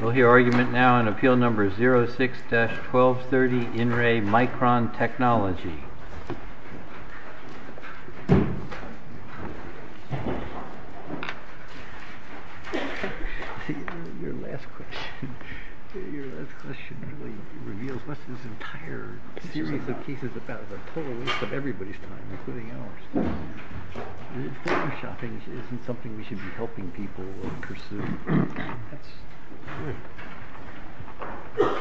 We'll hear argument now on appeal number 06-1230, In Re Micron Technology. Your last question really reveals this entire series of cases about the total waste of everybody's time, including ours. Photoshopping isn't something we should be helping people pursue. That's good.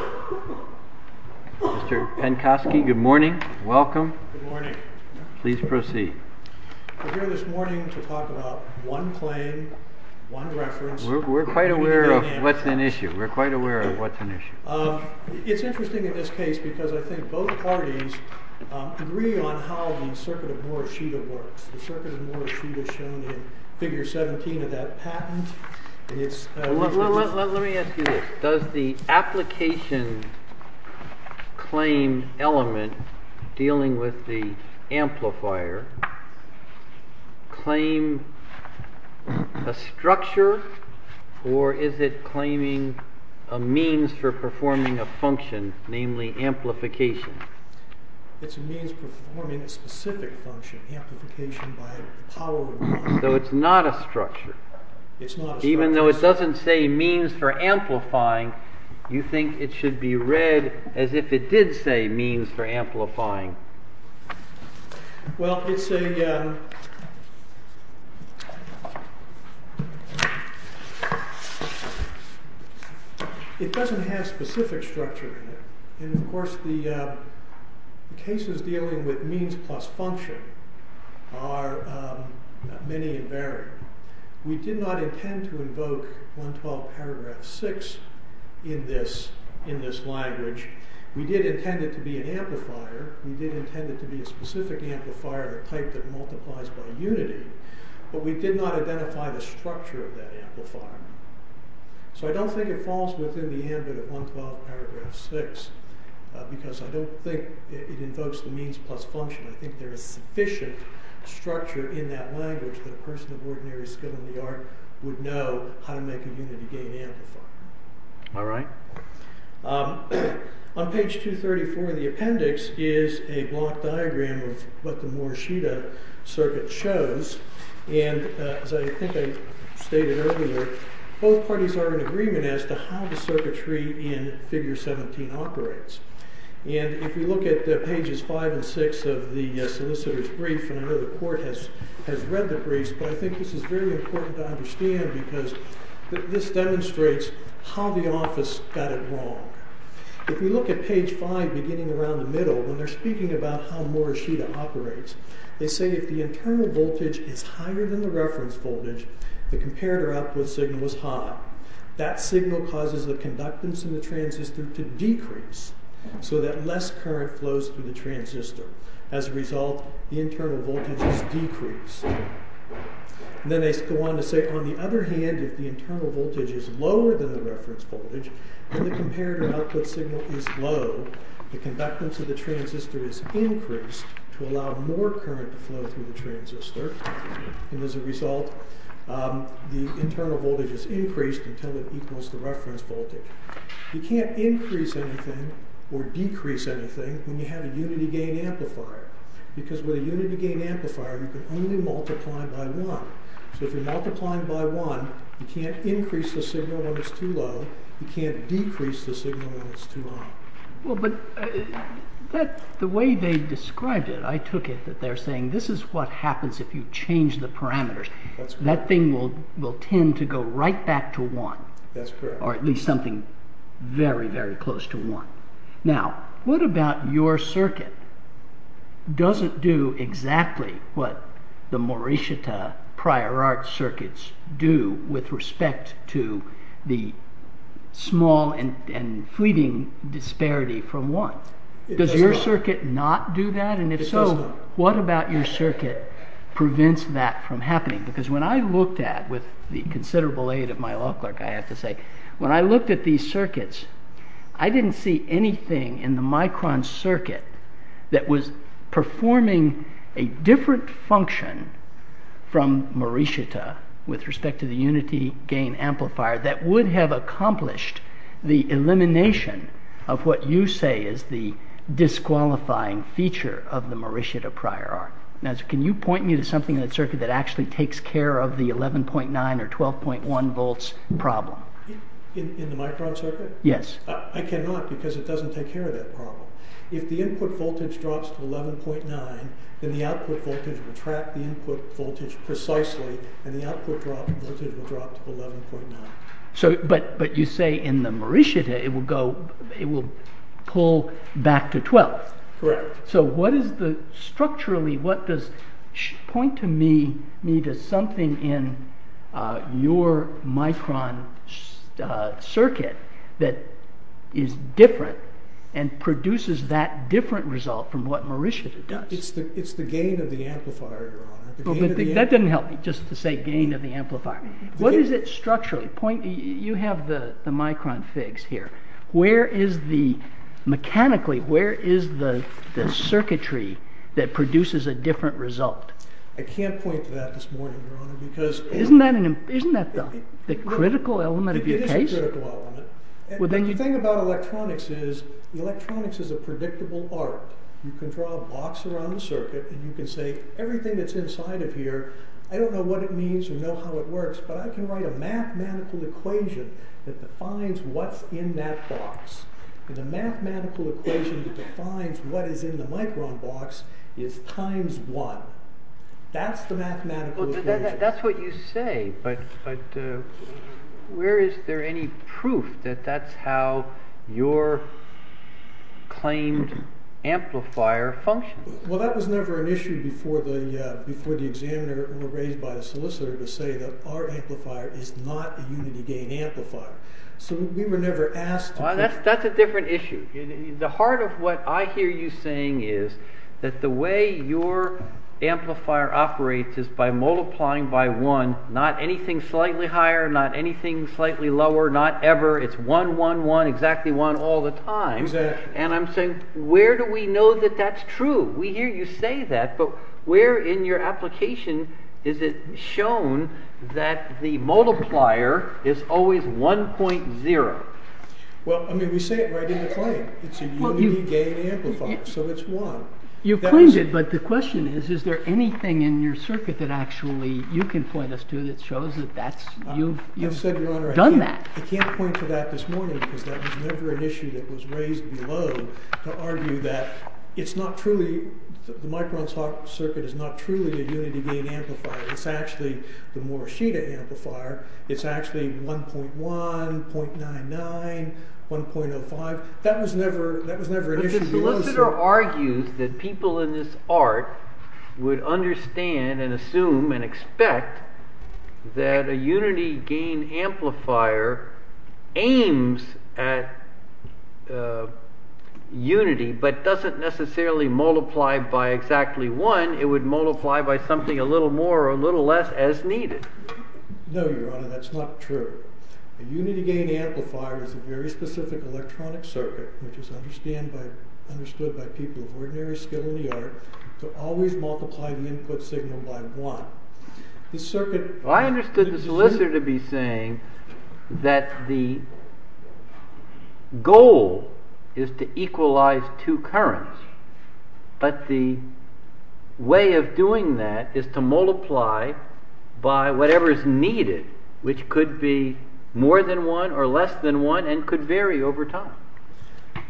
Mr. Pencosky, good morning. Welcome. Good morning. Please proceed. We're here this morning to talk about one claim, one reference. We're quite aware of what's an issue. We're quite aware of what's an issue. It's interesting in this case because I think both parties agree on how the Circuit of Morishita works. The Circuit of Morishita is shown in figure 17 of that patent. Let me ask you this. Does the application claim element dealing with the amplifier claim a structure? Or is it claiming a means for performing a function, namely amplification? It's a means performing a specific function, amplification by power. So it's not a structure? It's not a structure. Even though it doesn't say means for amplifying, you think it should be read as if it did say means for amplifying. Well, it doesn't have specific structure in it. And, of course, the cases dealing with means plus function are many and varied. We did not intend to invoke 112 paragraph 6 in this language. We did intend it to be an amplifier. We did intend it to be a specific amplifier, the type that multiplies by unity. But we did not identify the structure of that amplifier. So I don't think it falls within the ambit of 112 paragraph 6. Because I don't think it invokes the means plus function. I think there is sufficient structure in that language that a person of ordinary skill in the art would know how to make a unity gain amplifier. Am I right? On page 234 of the appendix is a block diagram of what the Morishita Circuit shows. And as I think I stated earlier, both parties are in agreement as to how the circuitry in figure 17 operates. And if you look at pages 5 and 6 of the solicitor's brief, and I know the court has read the briefs, but I think this is very important to understand. Because this demonstrates how the office got it wrong. If you look at page 5 beginning around the middle, when they're speaking about how Morishita operates, they say if the internal voltage is higher than the reference voltage, the comparator output signal is high. That signal causes the conductance in the transistor to decrease, so that less current flows through the transistor. As a result, the internal voltage is decreased. Then they go on to say, on the other hand, if the internal voltage is lower than the reference voltage, and the comparator output signal is low, the conductance of the transistor is increased to allow more current to flow through the transistor. And as a result, the internal voltage is increased until it equals the reference voltage. You can't increase anything or decrease anything when you have a unity gain amplifier. Because with a unity gain amplifier, you can only multiply by one. So if you're multiplying by one, you can't increase the signal when it's too low, you can't decrease the signal when it's too high. Well, but the way they described it, I took it that they're saying this is what happens if you change the parameters. That thing will tend to go right back to one. That's correct. Or at least something very, very close to one. Now, what about your circuit? Doesn't do exactly what the Morishita prior art circuits do with respect to the small and fleeting disparity from one. Does your circuit not do that? And if so, what about your circuit prevents that from happening? Because when I looked at, with the considerable aid of my law clerk, I have to say, when I looked at these circuits, I didn't see anything in the micron circuit that was performing a different function from Morishita with respect to the unity gain amplifier that would have accomplished the elimination of what you say is the disqualifying feature of the Morishita prior art. Now, can you point me to something in that circuit that actually takes care of the 11.9 or 12.1 volts problem? In the micron circuit? Yes. I cannot, because it doesn't take care of that problem. If the input voltage drops to 11.9, then the output voltage will track the input voltage precisely, and the output voltage will drop to 11.9. But you say in the Morishita, it will pull back to 12. Correct. So, structurally, point to me to something in your micron circuit that is different and produces that different result from what Morishita does. It's the gain of the amplifier, your honor. That didn't help me, just to say gain of the amplifier. What is it structurally? You have the micron figs here. Mechanically, where is the circuitry that produces a different result? I can't point to that this morning, your honor. Isn't that the critical element of your case? It is a critical element. The thing about electronics is, electronics is a predictable art. You can draw a box around the circuit, and you can say, everything that's inside of here, I don't know what it means or know how it works, but I can write a mathematical equation that defines what's in that box. And the mathematical equation that defines what is in the micron box is times one. That's the mathematical equation. That's what you say, but where is there any proof that that's how your claimed amplifier functions? Well, that was never an issue before the examiner or raised by the solicitor to say that our amplifier is not a unity gain amplifier. So we were never asked to... That's a different issue. The heart of what I hear you saying is that the way your amplifier operates is by multiplying by one, not anything slightly higher, not anything slightly lower, not ever. It's one, one, one, exactly one all the time. Exactly. And I'm saying, where do we know that that's true? We hear you say that, but where in your application is it shown that the multiplier is always 1.0? Well, I mean, we say it right in the claim. It's a unity gain amplifier, so it's one. You've claimed it, but the question is, is there anything in your circuit that actually you can point us to that shows that you've done that? I can't point to that this morning because that was never an issue that was raised below to argue that it's not truly... The micron circuit is not truly a unity gain amplifier. It's actually the Morishita amplifier. It's actually 1.1, 0.99, 1.05. But the solicitor argues that people in this art would understand and assume and expect that a unity gain amplifier aims at unity, but doesn't necessarily multiply by exactly one. It would multiply by something a little more or a little less as needed. No, Your Honor, that's not true. A unity gain amplifier is a very specific electronic circuit which is understood by people of ordinary skill in the art to always multiply the input signal by one. This circuit... More than one or less than one and could vary over time.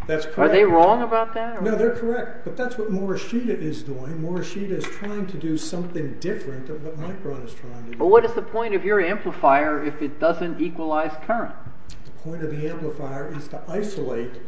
That's correct. Are they wrong about that? No, they're correct, but that's what Morishita is doing. Morishita is trying to do something different than what micron is trying to do. Well, what is the point of your amplifier if it doesn't equalize current? The point of the amplifier is to isolate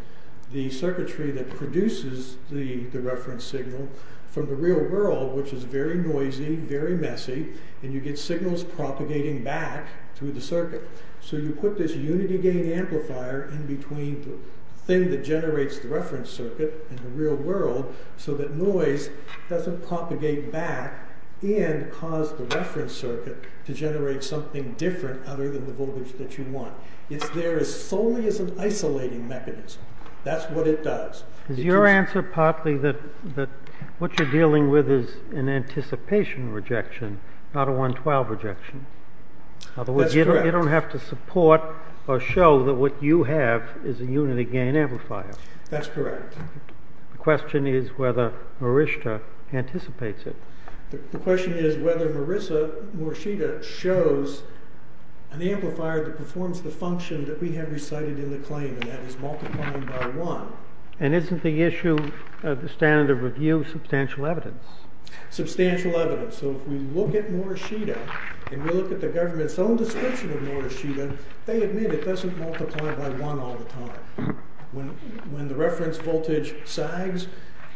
the circuitry that produces the reference signal from the real world, which is very noisy, very messy, and you get signals propagating back through the circuit. So you put this unity gain amplifier in between the thing that generates the reference circuit and the real world so that noise doesn't propagate back and cause the reference circuit to generate something different other than the voltage that you want. It's there as solely as an isolating mechanism. That's what it does. Is your answer partly that what you're dealing with is an anticipation rejection, not a 112 rejection? That's correct. You don't have to support or show that what you have is a unity gain amplifier. That's correct. The question is whether Morishita anticipates it. The question is whether Morishita shows an amplifier that performs the function that we have recited in the claim, and that is multiplying by one. And isn't the issue of the standard of review substantial evidence? Substantial evidence. So if we look at Morishita and we look at the government's own description of Morishita, they admit it doesn't multiply by one all the time. When the reference voltage sags,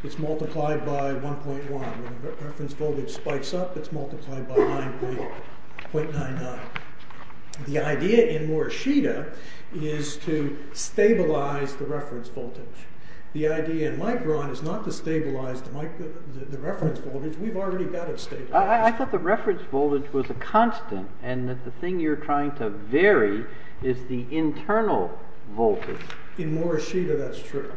it's multiplied by 1.1. When the reference voltage spikes up, it's multiplied by 9.99. The idea in Morishita is to stabilize the reference voltage. The idea in Micron is not to stabilize the reference voltage. We've already got it stabilized. I thought the reference voltage was a constant and that the thing you're trying to vary is the internal voltage. In Morishita, that's true.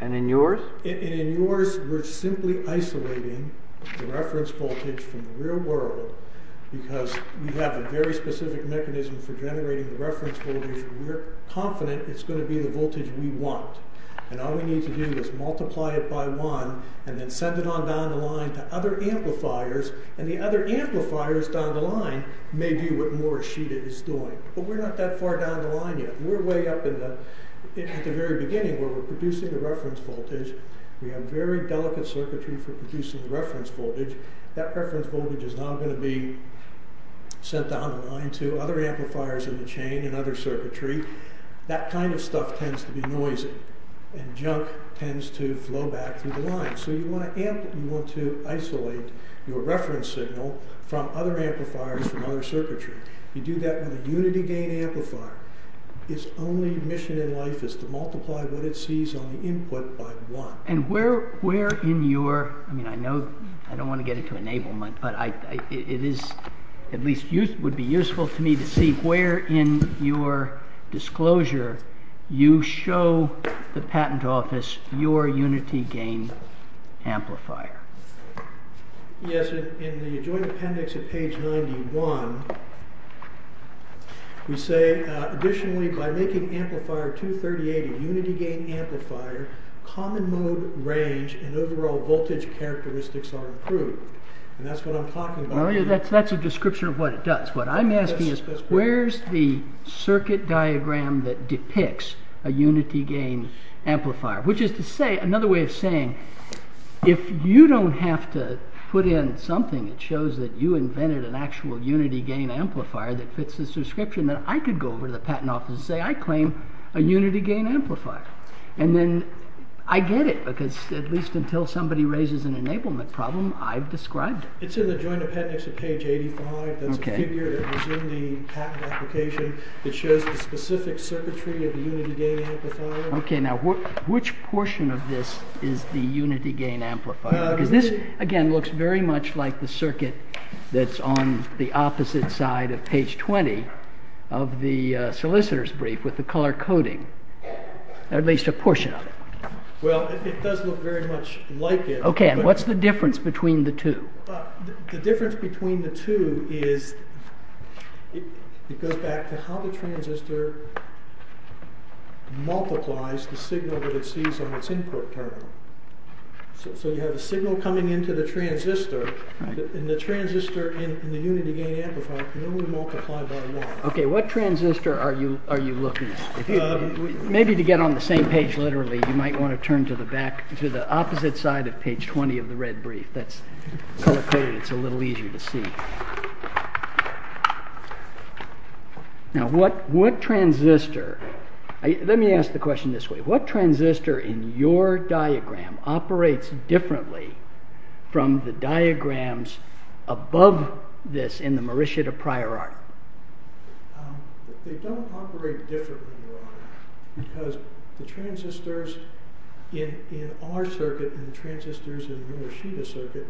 And in yours? In yours, we're simply isolating the reference voltage from the real world because we have a very specific mechanism for generating the reference voltage. We're confident it's going to be the voltage we want. And all we need to do is multiply it by one and then send it on down the line to other amplifiers. And the other amplifiers down the line may do what Morishita is doing. But we're not that far down the line yet. We're way up at the very beginning where we're producing a reference voltage. We have very delicate circuitry for producing reference voltage. That reference voltage is now going to be sent down the line to other amplifiers in the chain and other circuitry. That kind of stuff tends to be noisy and junk tends to flow back through the line. So you want to isolate your reference signal from other amplifiers from other circuitry. You do that with a unity gain amplifier. Its only mission in life is to multiply what it sees on the input by one. I don't want to get into enablement, but it would be useful to me to see where in your disclosure you show the patent office your unity gain amplifier. Yes, in the joint appendix at page 91, we say additionally by making amplifier 238 a unity gain amplifier, common mode range and overall voltage characteristics are improved. And that's what I'm talking about here. That's a description of what it does. What I'm asking is where's the circuit diagram that depicts a unity gain amplifier. Which is to say, another way of saying, if you don't have to put in something that shows that you invented an actual unity gain amplifier that fits this description, then I could go over to the patent office and say I claim a unity gain amplifier. And then I get it, because at least until somebody raises an enablement problem, I've described it. It's in the joint appendix at page 85. That's a figure that was in the patent application that shows the specific circuitry of the unity gain amplifier. Okay, now which portion of this is the unity gain amplifier? Because this, again, looks very much like the circuit that's on the opposite side of page 20 of the solicitor's brief with the color coding. At least a portion of it. Well, it does look very much like it. Okay, and what's the difference between the two? The difference between the two is, it goes back to how the transistor multiplies the signal that it sees on its input terminal. So you have a signal coming into the transistor, and the transistor in the unity gain amplifier can only multiply by one. Okay, what transistor are you looking at? Maybe to get on the same page literally, you might want to turn to the back, to the opposite side of page 20 of the red brief. That's color coded, it's a little easier to see. Now what transistor, let me ask the question this way. What transistor in your diagram operates differently from the diagrams above this in the Morishita prior art? They don't operate differently, Your Honor, because the transistors in our circuit and the transistors in the Morishita circuit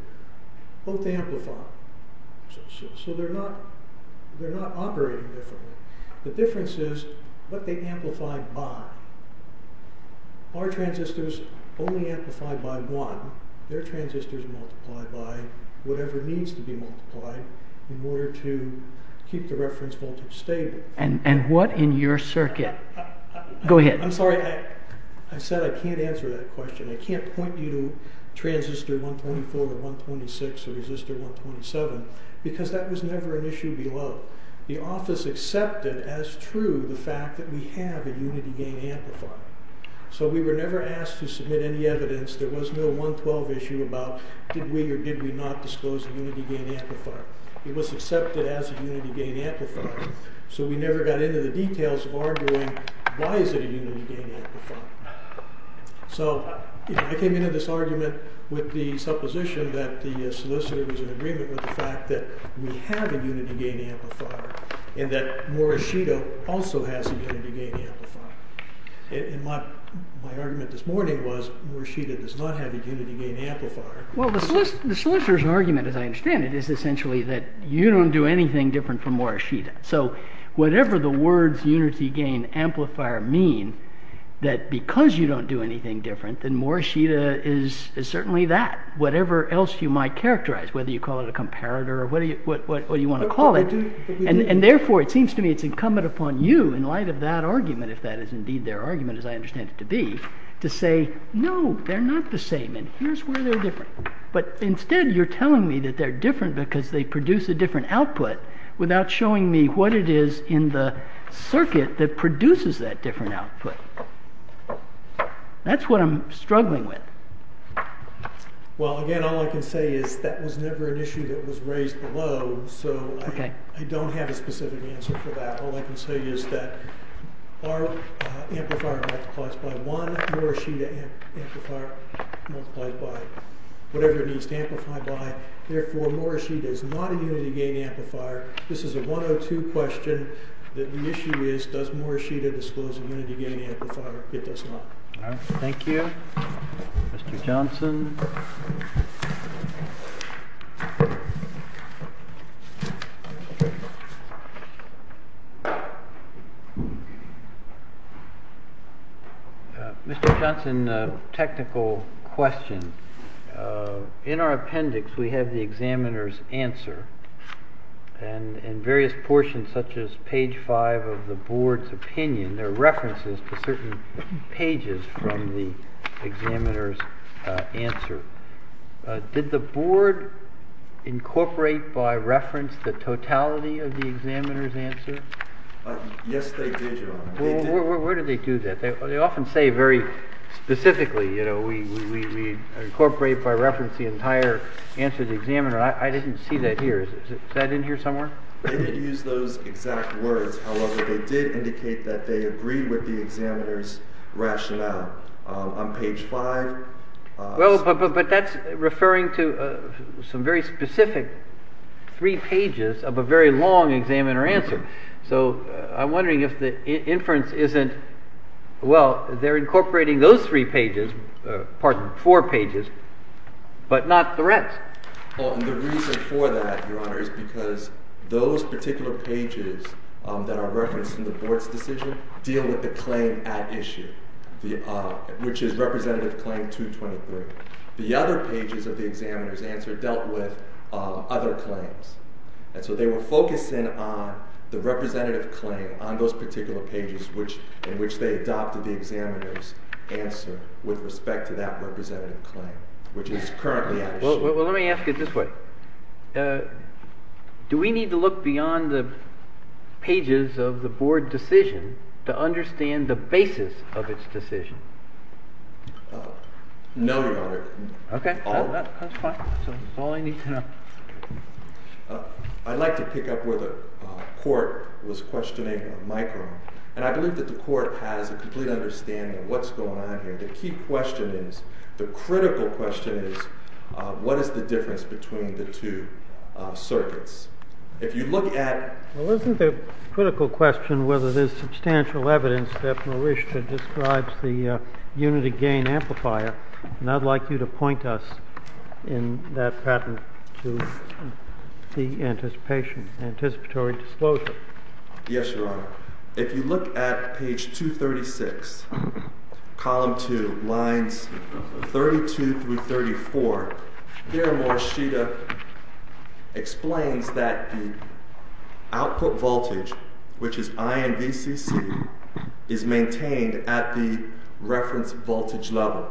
both amplify. So they're not operating differently. The difference is what they amplify by. Our transistors only amplify by one. Their transistors multiply by whatever needs to be multiplied in order to keep the reference voltage stable. And what in your circuit? Go ahead. I'm sorry, I said I can't answer that question. I can't point you to transistor 124 or 126 or resistor 127, because that was never an issue below. The office accepted as true the fact that we have a unity gain amplifier. So we were never asked to submit any evidence. There was no 112 issue about did we or did we not disclose a unity gain amplifier. It was accepted as a unity gain amplifier. So we never got into the details of arguing why is it a unity gain amplifier. So I came into this argument with the supposition that the solicitor was in agreement with the fact that we have a unity gain amplifier. And that Morishita also has a unity gain amplifier. And my argument this morning was Morishita does not have a unity gain amplifier. Well, the solicitor's argument, as I understand it, is essentially that you don't do anything different from Morishita. So whatever the words unity gain amplifier mean, that because you don't do anything different, then Morishita is certainly that. Whatever else you might characterize, whether you call it a comparator or whatever you want to call it. And therefore, it seems to me it's incumbent upon you in light of that argument, if that is indeed their argument, as I understand it to be, to say, no, they're not the same. And here's where they're different. But instead, you're telling me that they're different because they produce a different output without showing me what it is in the circuit that produces that different output. That's what I'm struggling with. Well, again, all I can say is that was never an issue that was raised below. So I don't have a specific answer for that. All I can say is that our amplifier multiplies by one. Morishita amplifier multiplies by whatever it needs to amplify by. Therefore, Morishita is not a unity gain amplifier. This is a 102 question. The issue is, does Morishita disclose a unity gain amplifier? It does not. Thank you. Mr. Johnson. Mr. Johnson, technical question. In our appendix, we have the examiner's answer. And in various portions, such as page five of the board's opinion, there are references to certain pages from the examiner's answer. Did the board incorporate by reference the totality of the examiner's answer? Yes, they did. Where did they do that? They often say very specifically, you know, we incorporate by reference the entire answer to the examiner. I didn't see that here. Is that in here somewhere? They did use those exact words. However, they did indicate that they agree with the examiner's rationale on page five. Well, but that's referring to some very specific three pages of a very long examiner answer. So I'm wondering if the inference isn't, well, they're incorporating those three pages, pardon, four pages, but not the rest. Well, and the reason for that, Your Honor, is because those particular pages that are referenced in the board's decision deal with the claim at issue, which is Representative Claim 223. The other pages of the examiner's answer dealt with other claims. And so they were focusing on the representative claim on those particular pages in which they adopted the examiner's answer with respect to that representative claim, which is currently at issue. Well, let me ask it this way. Do we need to look beyond the pages of the board decision to understand the basis of its decision? No, Your Honor. OK. That's fine. That's all I need to know. I'd like to pick up where the court was questioning Michael. And I believe that the court has a complete understanding of what's going on here. The key question is, the critical question is, what is the difference between the two circuits? If you look at- Well, isn't the critical question whether there's substantial evidence that Mauritius describes the unity gain amplifier? And I'd like you to point us in that pattern to the anticipatory disclosure. Yes, Your Honor. If you look at page 236, column 2, lines 32 through 34, there, Mauritius explains that the output voltage, which is INVCC, is maintained at the reference voltage level.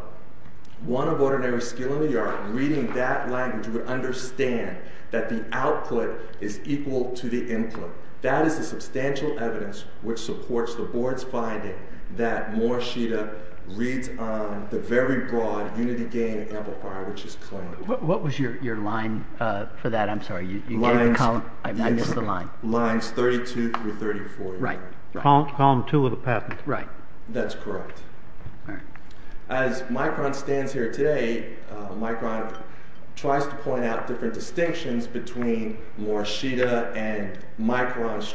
One of ordinary skill in the art, reading that language, would understand that the output is equal to the input. That is the substantial evidence which supports the board's finding that Mauritius reads on the very broad unity gain amplifier, which is claimed. What was your line for that? I'm sorry. I missed the line. Lines 32 through 34. Right. Column 2 of the patent. Right. That's correct. All right. As Micron stands here today, Micron tries to point out different distinctions between Morishita and Micron's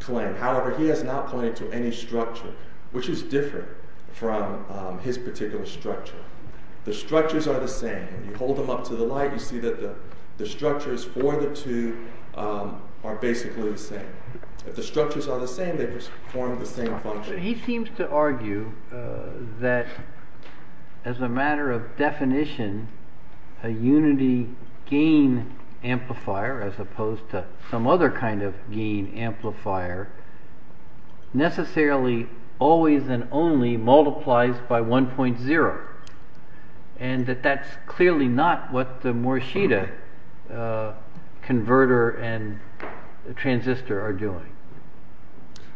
claim. However, he has not pointed to any structure, which is different from his particular structure. The structures are the same. You hold them up to the light, you see that the structures for the two are basically the same. If the structures are the same, they perform the same function. He seems to argue that, as a matter of definition, a unity gain amplifier, as opposed to some other kind of gain amplifier, necessarily always and only multiplies by 1.0. And that that's clearly not what the Morishita converter and transistor are doing.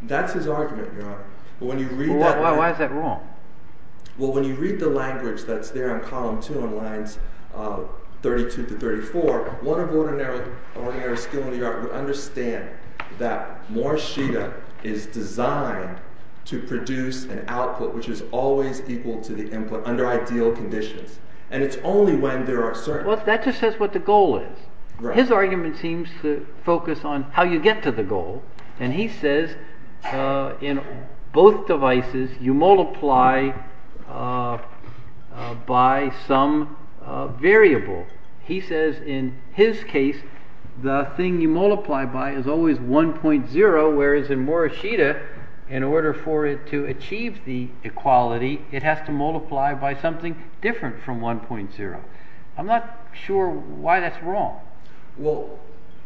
That's his argument, Your Honor. Why is that wrong? Well, when you read the language that's there on column 2 on lines 32 to 34, one of ordinary skill in the art would understand that Morishita is designed to produce an output which is always equal to the input under ideal conditions. And it's only when there are certain… Well, that just says what the goal is. His argument seems to focus on how you get to the goal. And he says, in both devices, you multiply by some variable. He says, in his case, the thing you multiply by is always 1.0, whereas in Morishita, in order for it to achieve the equality, it has to multiply by something different from 1.0. I'm not sure why that's wrong. Well,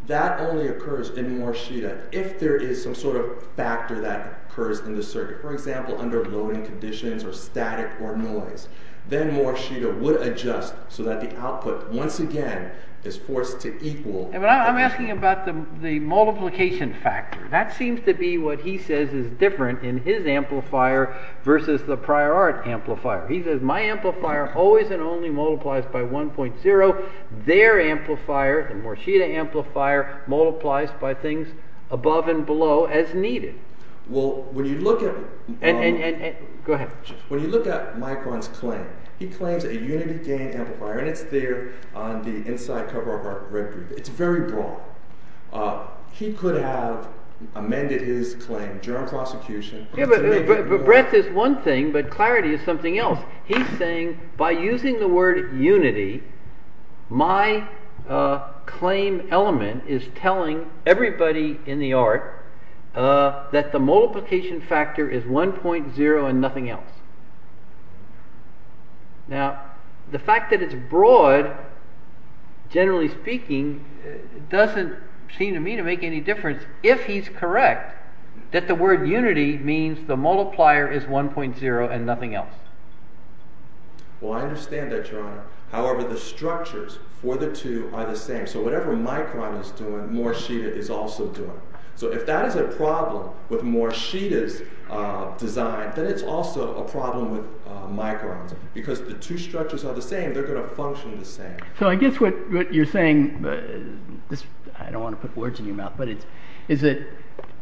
that only occurs in Morishita if there is some sort of factor that occurs in the circuit. For example, under loading conditions or static or noise, then Morishita would adjust so that the output, once again, is forced to equal… I'm asking about the multiplication factor. That seems to be what he says is different in his amplifier versus the prior art amplifier. He says, my amplifier always and only multiplies by 1.0. Their amplifier, the Morishita amplifier, multiplies by things above and below as needed. Well, when you look at… Go ahead. When you look at Micron's claim, he claims a unity gain amplifier, and it's there on the inside cover of our record. It's very broad. He could have amended his claim during prosecution… Breadth is one thing, but clarity is something else. He's saying, by using the word unity, my claim element is telling everybody in the art that the multiplication factor is 1.0 and nothing else. Now, the fact that it's broad, generally speaking, doesn't seem to me to make any difference. If he's correct, that the word unity means the multiplier is 1.0 and nothing else. Well, I understand that, Your Honor. However, the structures for the two are the same. So whatever Micron is doing, Morishita is also doing. So if that is a problem with Morishita's design, then it's also a problem with Micron's. Because the two structures are the same, they're going to function the same. So I guess what you're saying, I don't want to put words in your mouth, but is that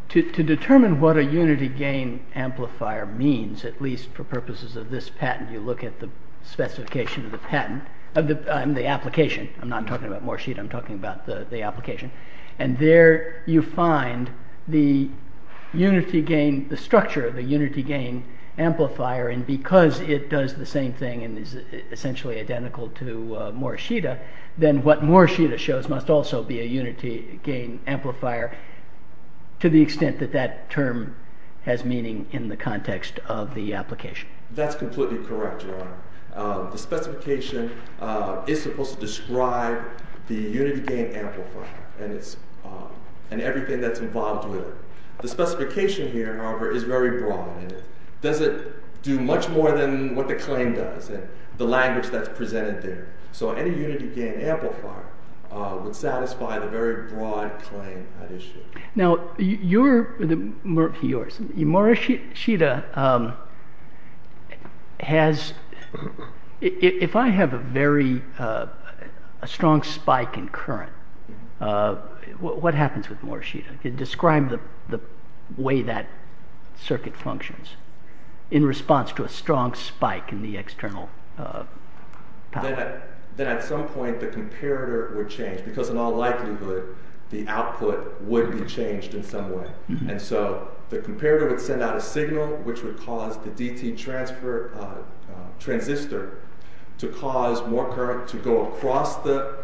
to determine what a unity gain amplifier means, at least for purposes of this patent, you look at the specification of the patent, I mean the application. I'm not talking about Morishita, I'm talking about the application. And there you find the unity gain, the structure of the unity gain amplifier, and because it does the same thing and is essentially identical to Morishita, then what Morishita shows must also be a unity gain amplifier to the extent that that term has meaning in the context of the application. That's completely correct, Your Honor. The specification is supposed to describe the unity gain amplifier and everything that's involved with it. The specification here, however, is very broad. It doesn't do much more than what the claim does and the language that's presented there. So any unity gain amplifier would satisfy the very broad claim at issue. Now, your, yours, Morishita has, if I have a very strong spike in current, what happens with Morishita? Describe the way that circuit functions in response to a strong spike in the external power. Then at some point the comparator would change because in all likelihood the output would be changed in some way. And so the comparator would send out a signal which would cause the DT transfer, transistor, to cause more current to go across the,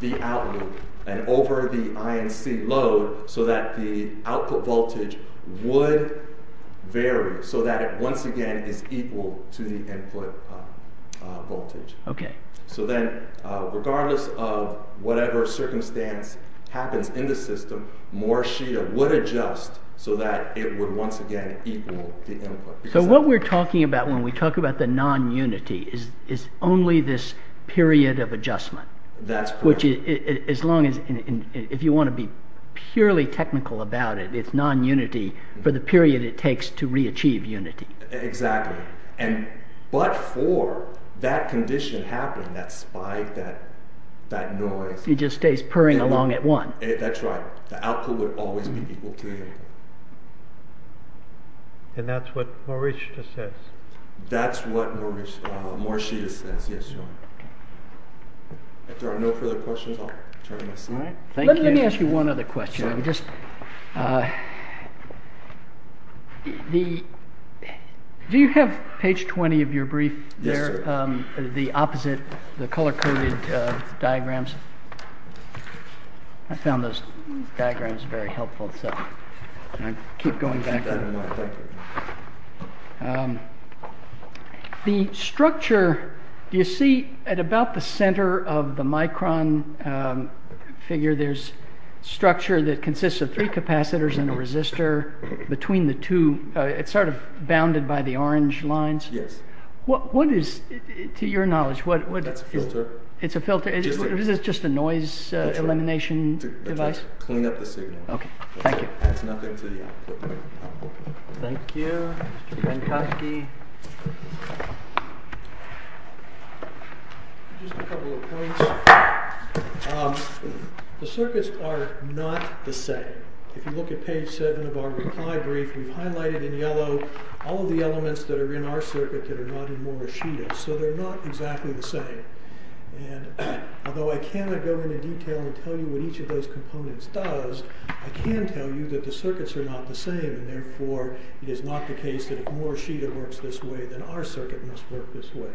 the out loop and over the INC load so that the output voltage would vary so that it once again is equal to the input voltage. Okay. So then regardless of whatever circumstance happens in the system, Morishita would adjust so that it would once again equal the input. So what we're talking about when we talk about the non-unity is only this period of adjustment. That's correct. Which is, as long as, if you want to be purely technical about it, it's non-unity for the period it takes to re-achieve unity. Exactly. And, but for that condition happening, that spike, that, that noise. It just stays purring along at one. That's right. The output would always be equal to unity. And that's what Morishita says. That's what Morishita says. Yes, John. Okay. If there are no further questions, I'll turn it aside. Thank you. Let me ask you one other question. Sure. I'm just, the, do you have page 20 of your brief there? Yes, sir. The opposite, the color-coded diagrams. I found those diagrams very helpful, so I keep going back to them. The structure, do you see, at about the center of the micron figure, there's structure that consists of three capacitors and a resistor between the two. It's sort of bounded by the orange lines. Yes. What is, to your knowledge, what. It's a filter. It's a filter. Is this just a noise elimination device? That's right. To clean up the signal. Okay. Thank you. Adds nothing to the output. Thank you. Mr. Minkowski. Just a couple of points. The circuits are not the same. If you look at page 7 of our reply brief, we've highlighted in yellow all of the elements that are in our circuit that are not in Morishita's. So they're not exactly the same. Although I cannot go into detail and tell you what each of those components does, I can tell you that the circuits are not the same, and therefore, it is not the case that if Morishita works this way, then our circuit must work this way.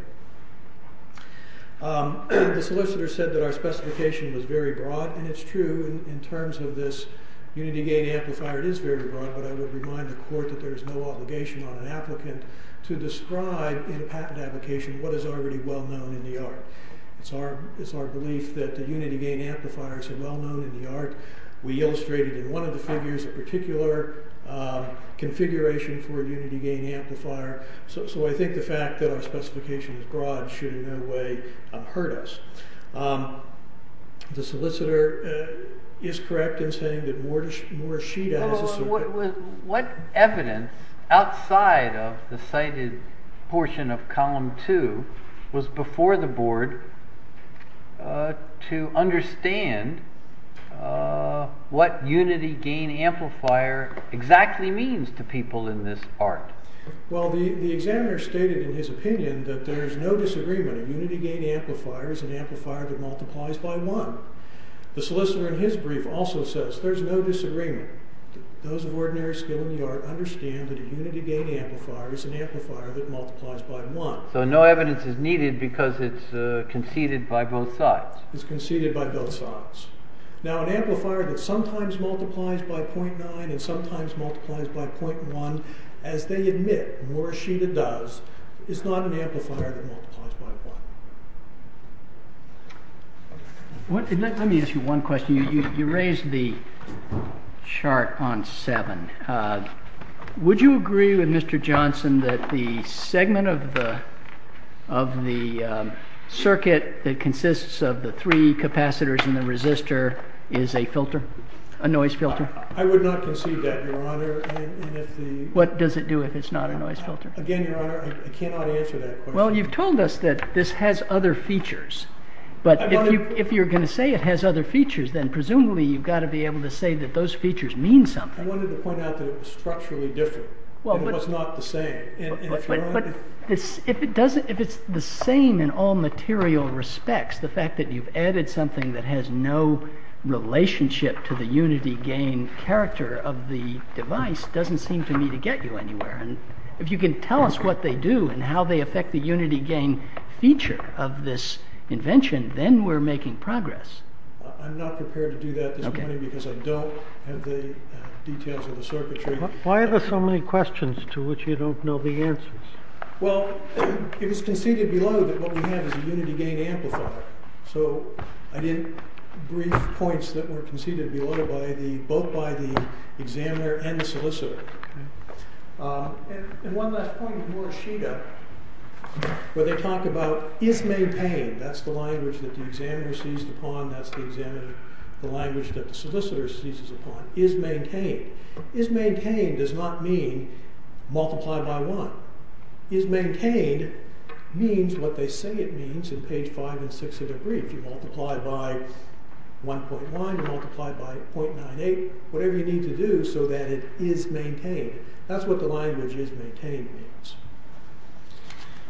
The solicitor said that our specification was very broad, and it's true. In terms of this unity gain amplifier, it is very broad, but I would remind the court that there is no obligation on an applicant to describe in a patent application what is already well-known in the art. It's our belief that the unity gain amplifiers are well-known in the art. We illustrated in one of the figures a particular configuration for a unity gain amplifier. So I think the fact that our specification is broad should in no way hurt us. The solicitor is correct in saying that Morishita has a circuit. What evidence outside of the cited portion of column 2 was before the board to understand what unity gain amplifier exactly means to people in this art? Well, the examiner stated in his opinion that there is no disagreement. A unity gain amplifier is an amplifier that multiplies by one. The solicitor in his brief also says there's no disagreement. Those of ordinary skill in the art understand that a unity gain amplifier is an amplifier that multiplies by one. So no evidence is needed because it's conceded by both sides. It's conceded by both sides. Now an amplifier that sometimes multiplies by 0.9 and sometimes multiplies by 0.1, as they admit, Morishita does, is not an amplifier that multiplies by one. Let me ask you one question. You raised the chart on 7. Would you agree with Mr. Johnson that the segment of the circuit that consists of the three capacitors and the resistor is a noise filter? I would not concede that, Your Honor. What does it do if it's not a noise filter? Again, Your Honor, I cannot answer that question. Well, you've told us that this has other features. But if you're going to say it has other features, then presumably you've got to be able to say that those features mean something. I wanted to point out that it was structurally different. It was not the same. But if it's the same in all material respects, the fact that you've added something that has no relationship to the unity gain character of the device doesn't seem to me to get you anywhere. And if you can tell us what they do and how they affect the unity gain feature of this invention, then we're making progress. I'm not prepared to do that at this point because I don't have the details of the circuitry. Why are there so many questions to which you don't know the answers? Well, it was conceded below that what we have is a unity gain amplifier. So I did brief points that were conceded below both by the examiner and the solicitor. And one last point with Morishita, where they talk about is maintained. That's the language that the examiner sees upon, that's the language that the solicitor sees upon. Is maintained. Is maintained does not mean multiply by 1. Is maintained means what they say it means in page 5 and 6 of their brief. You multiply by 1.1, you multiply by 0.98, whatever you need to do so that it is maintained. That's what the language is maintained means.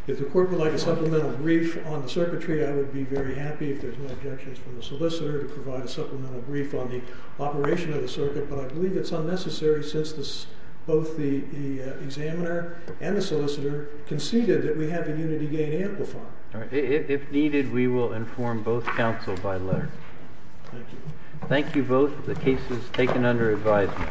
If the court would like a supplemental brief on the circuitry, I would be very happy if there's no objections from the solicitor to provide a supplemental brief on the operation of the circuit, but I believe it's unnecessary since both the examiner and the solicitor conceded that we have a unity gain amplifier. If needed, we will inform both counsel by letter. Thank you both. The case is taken under advisement.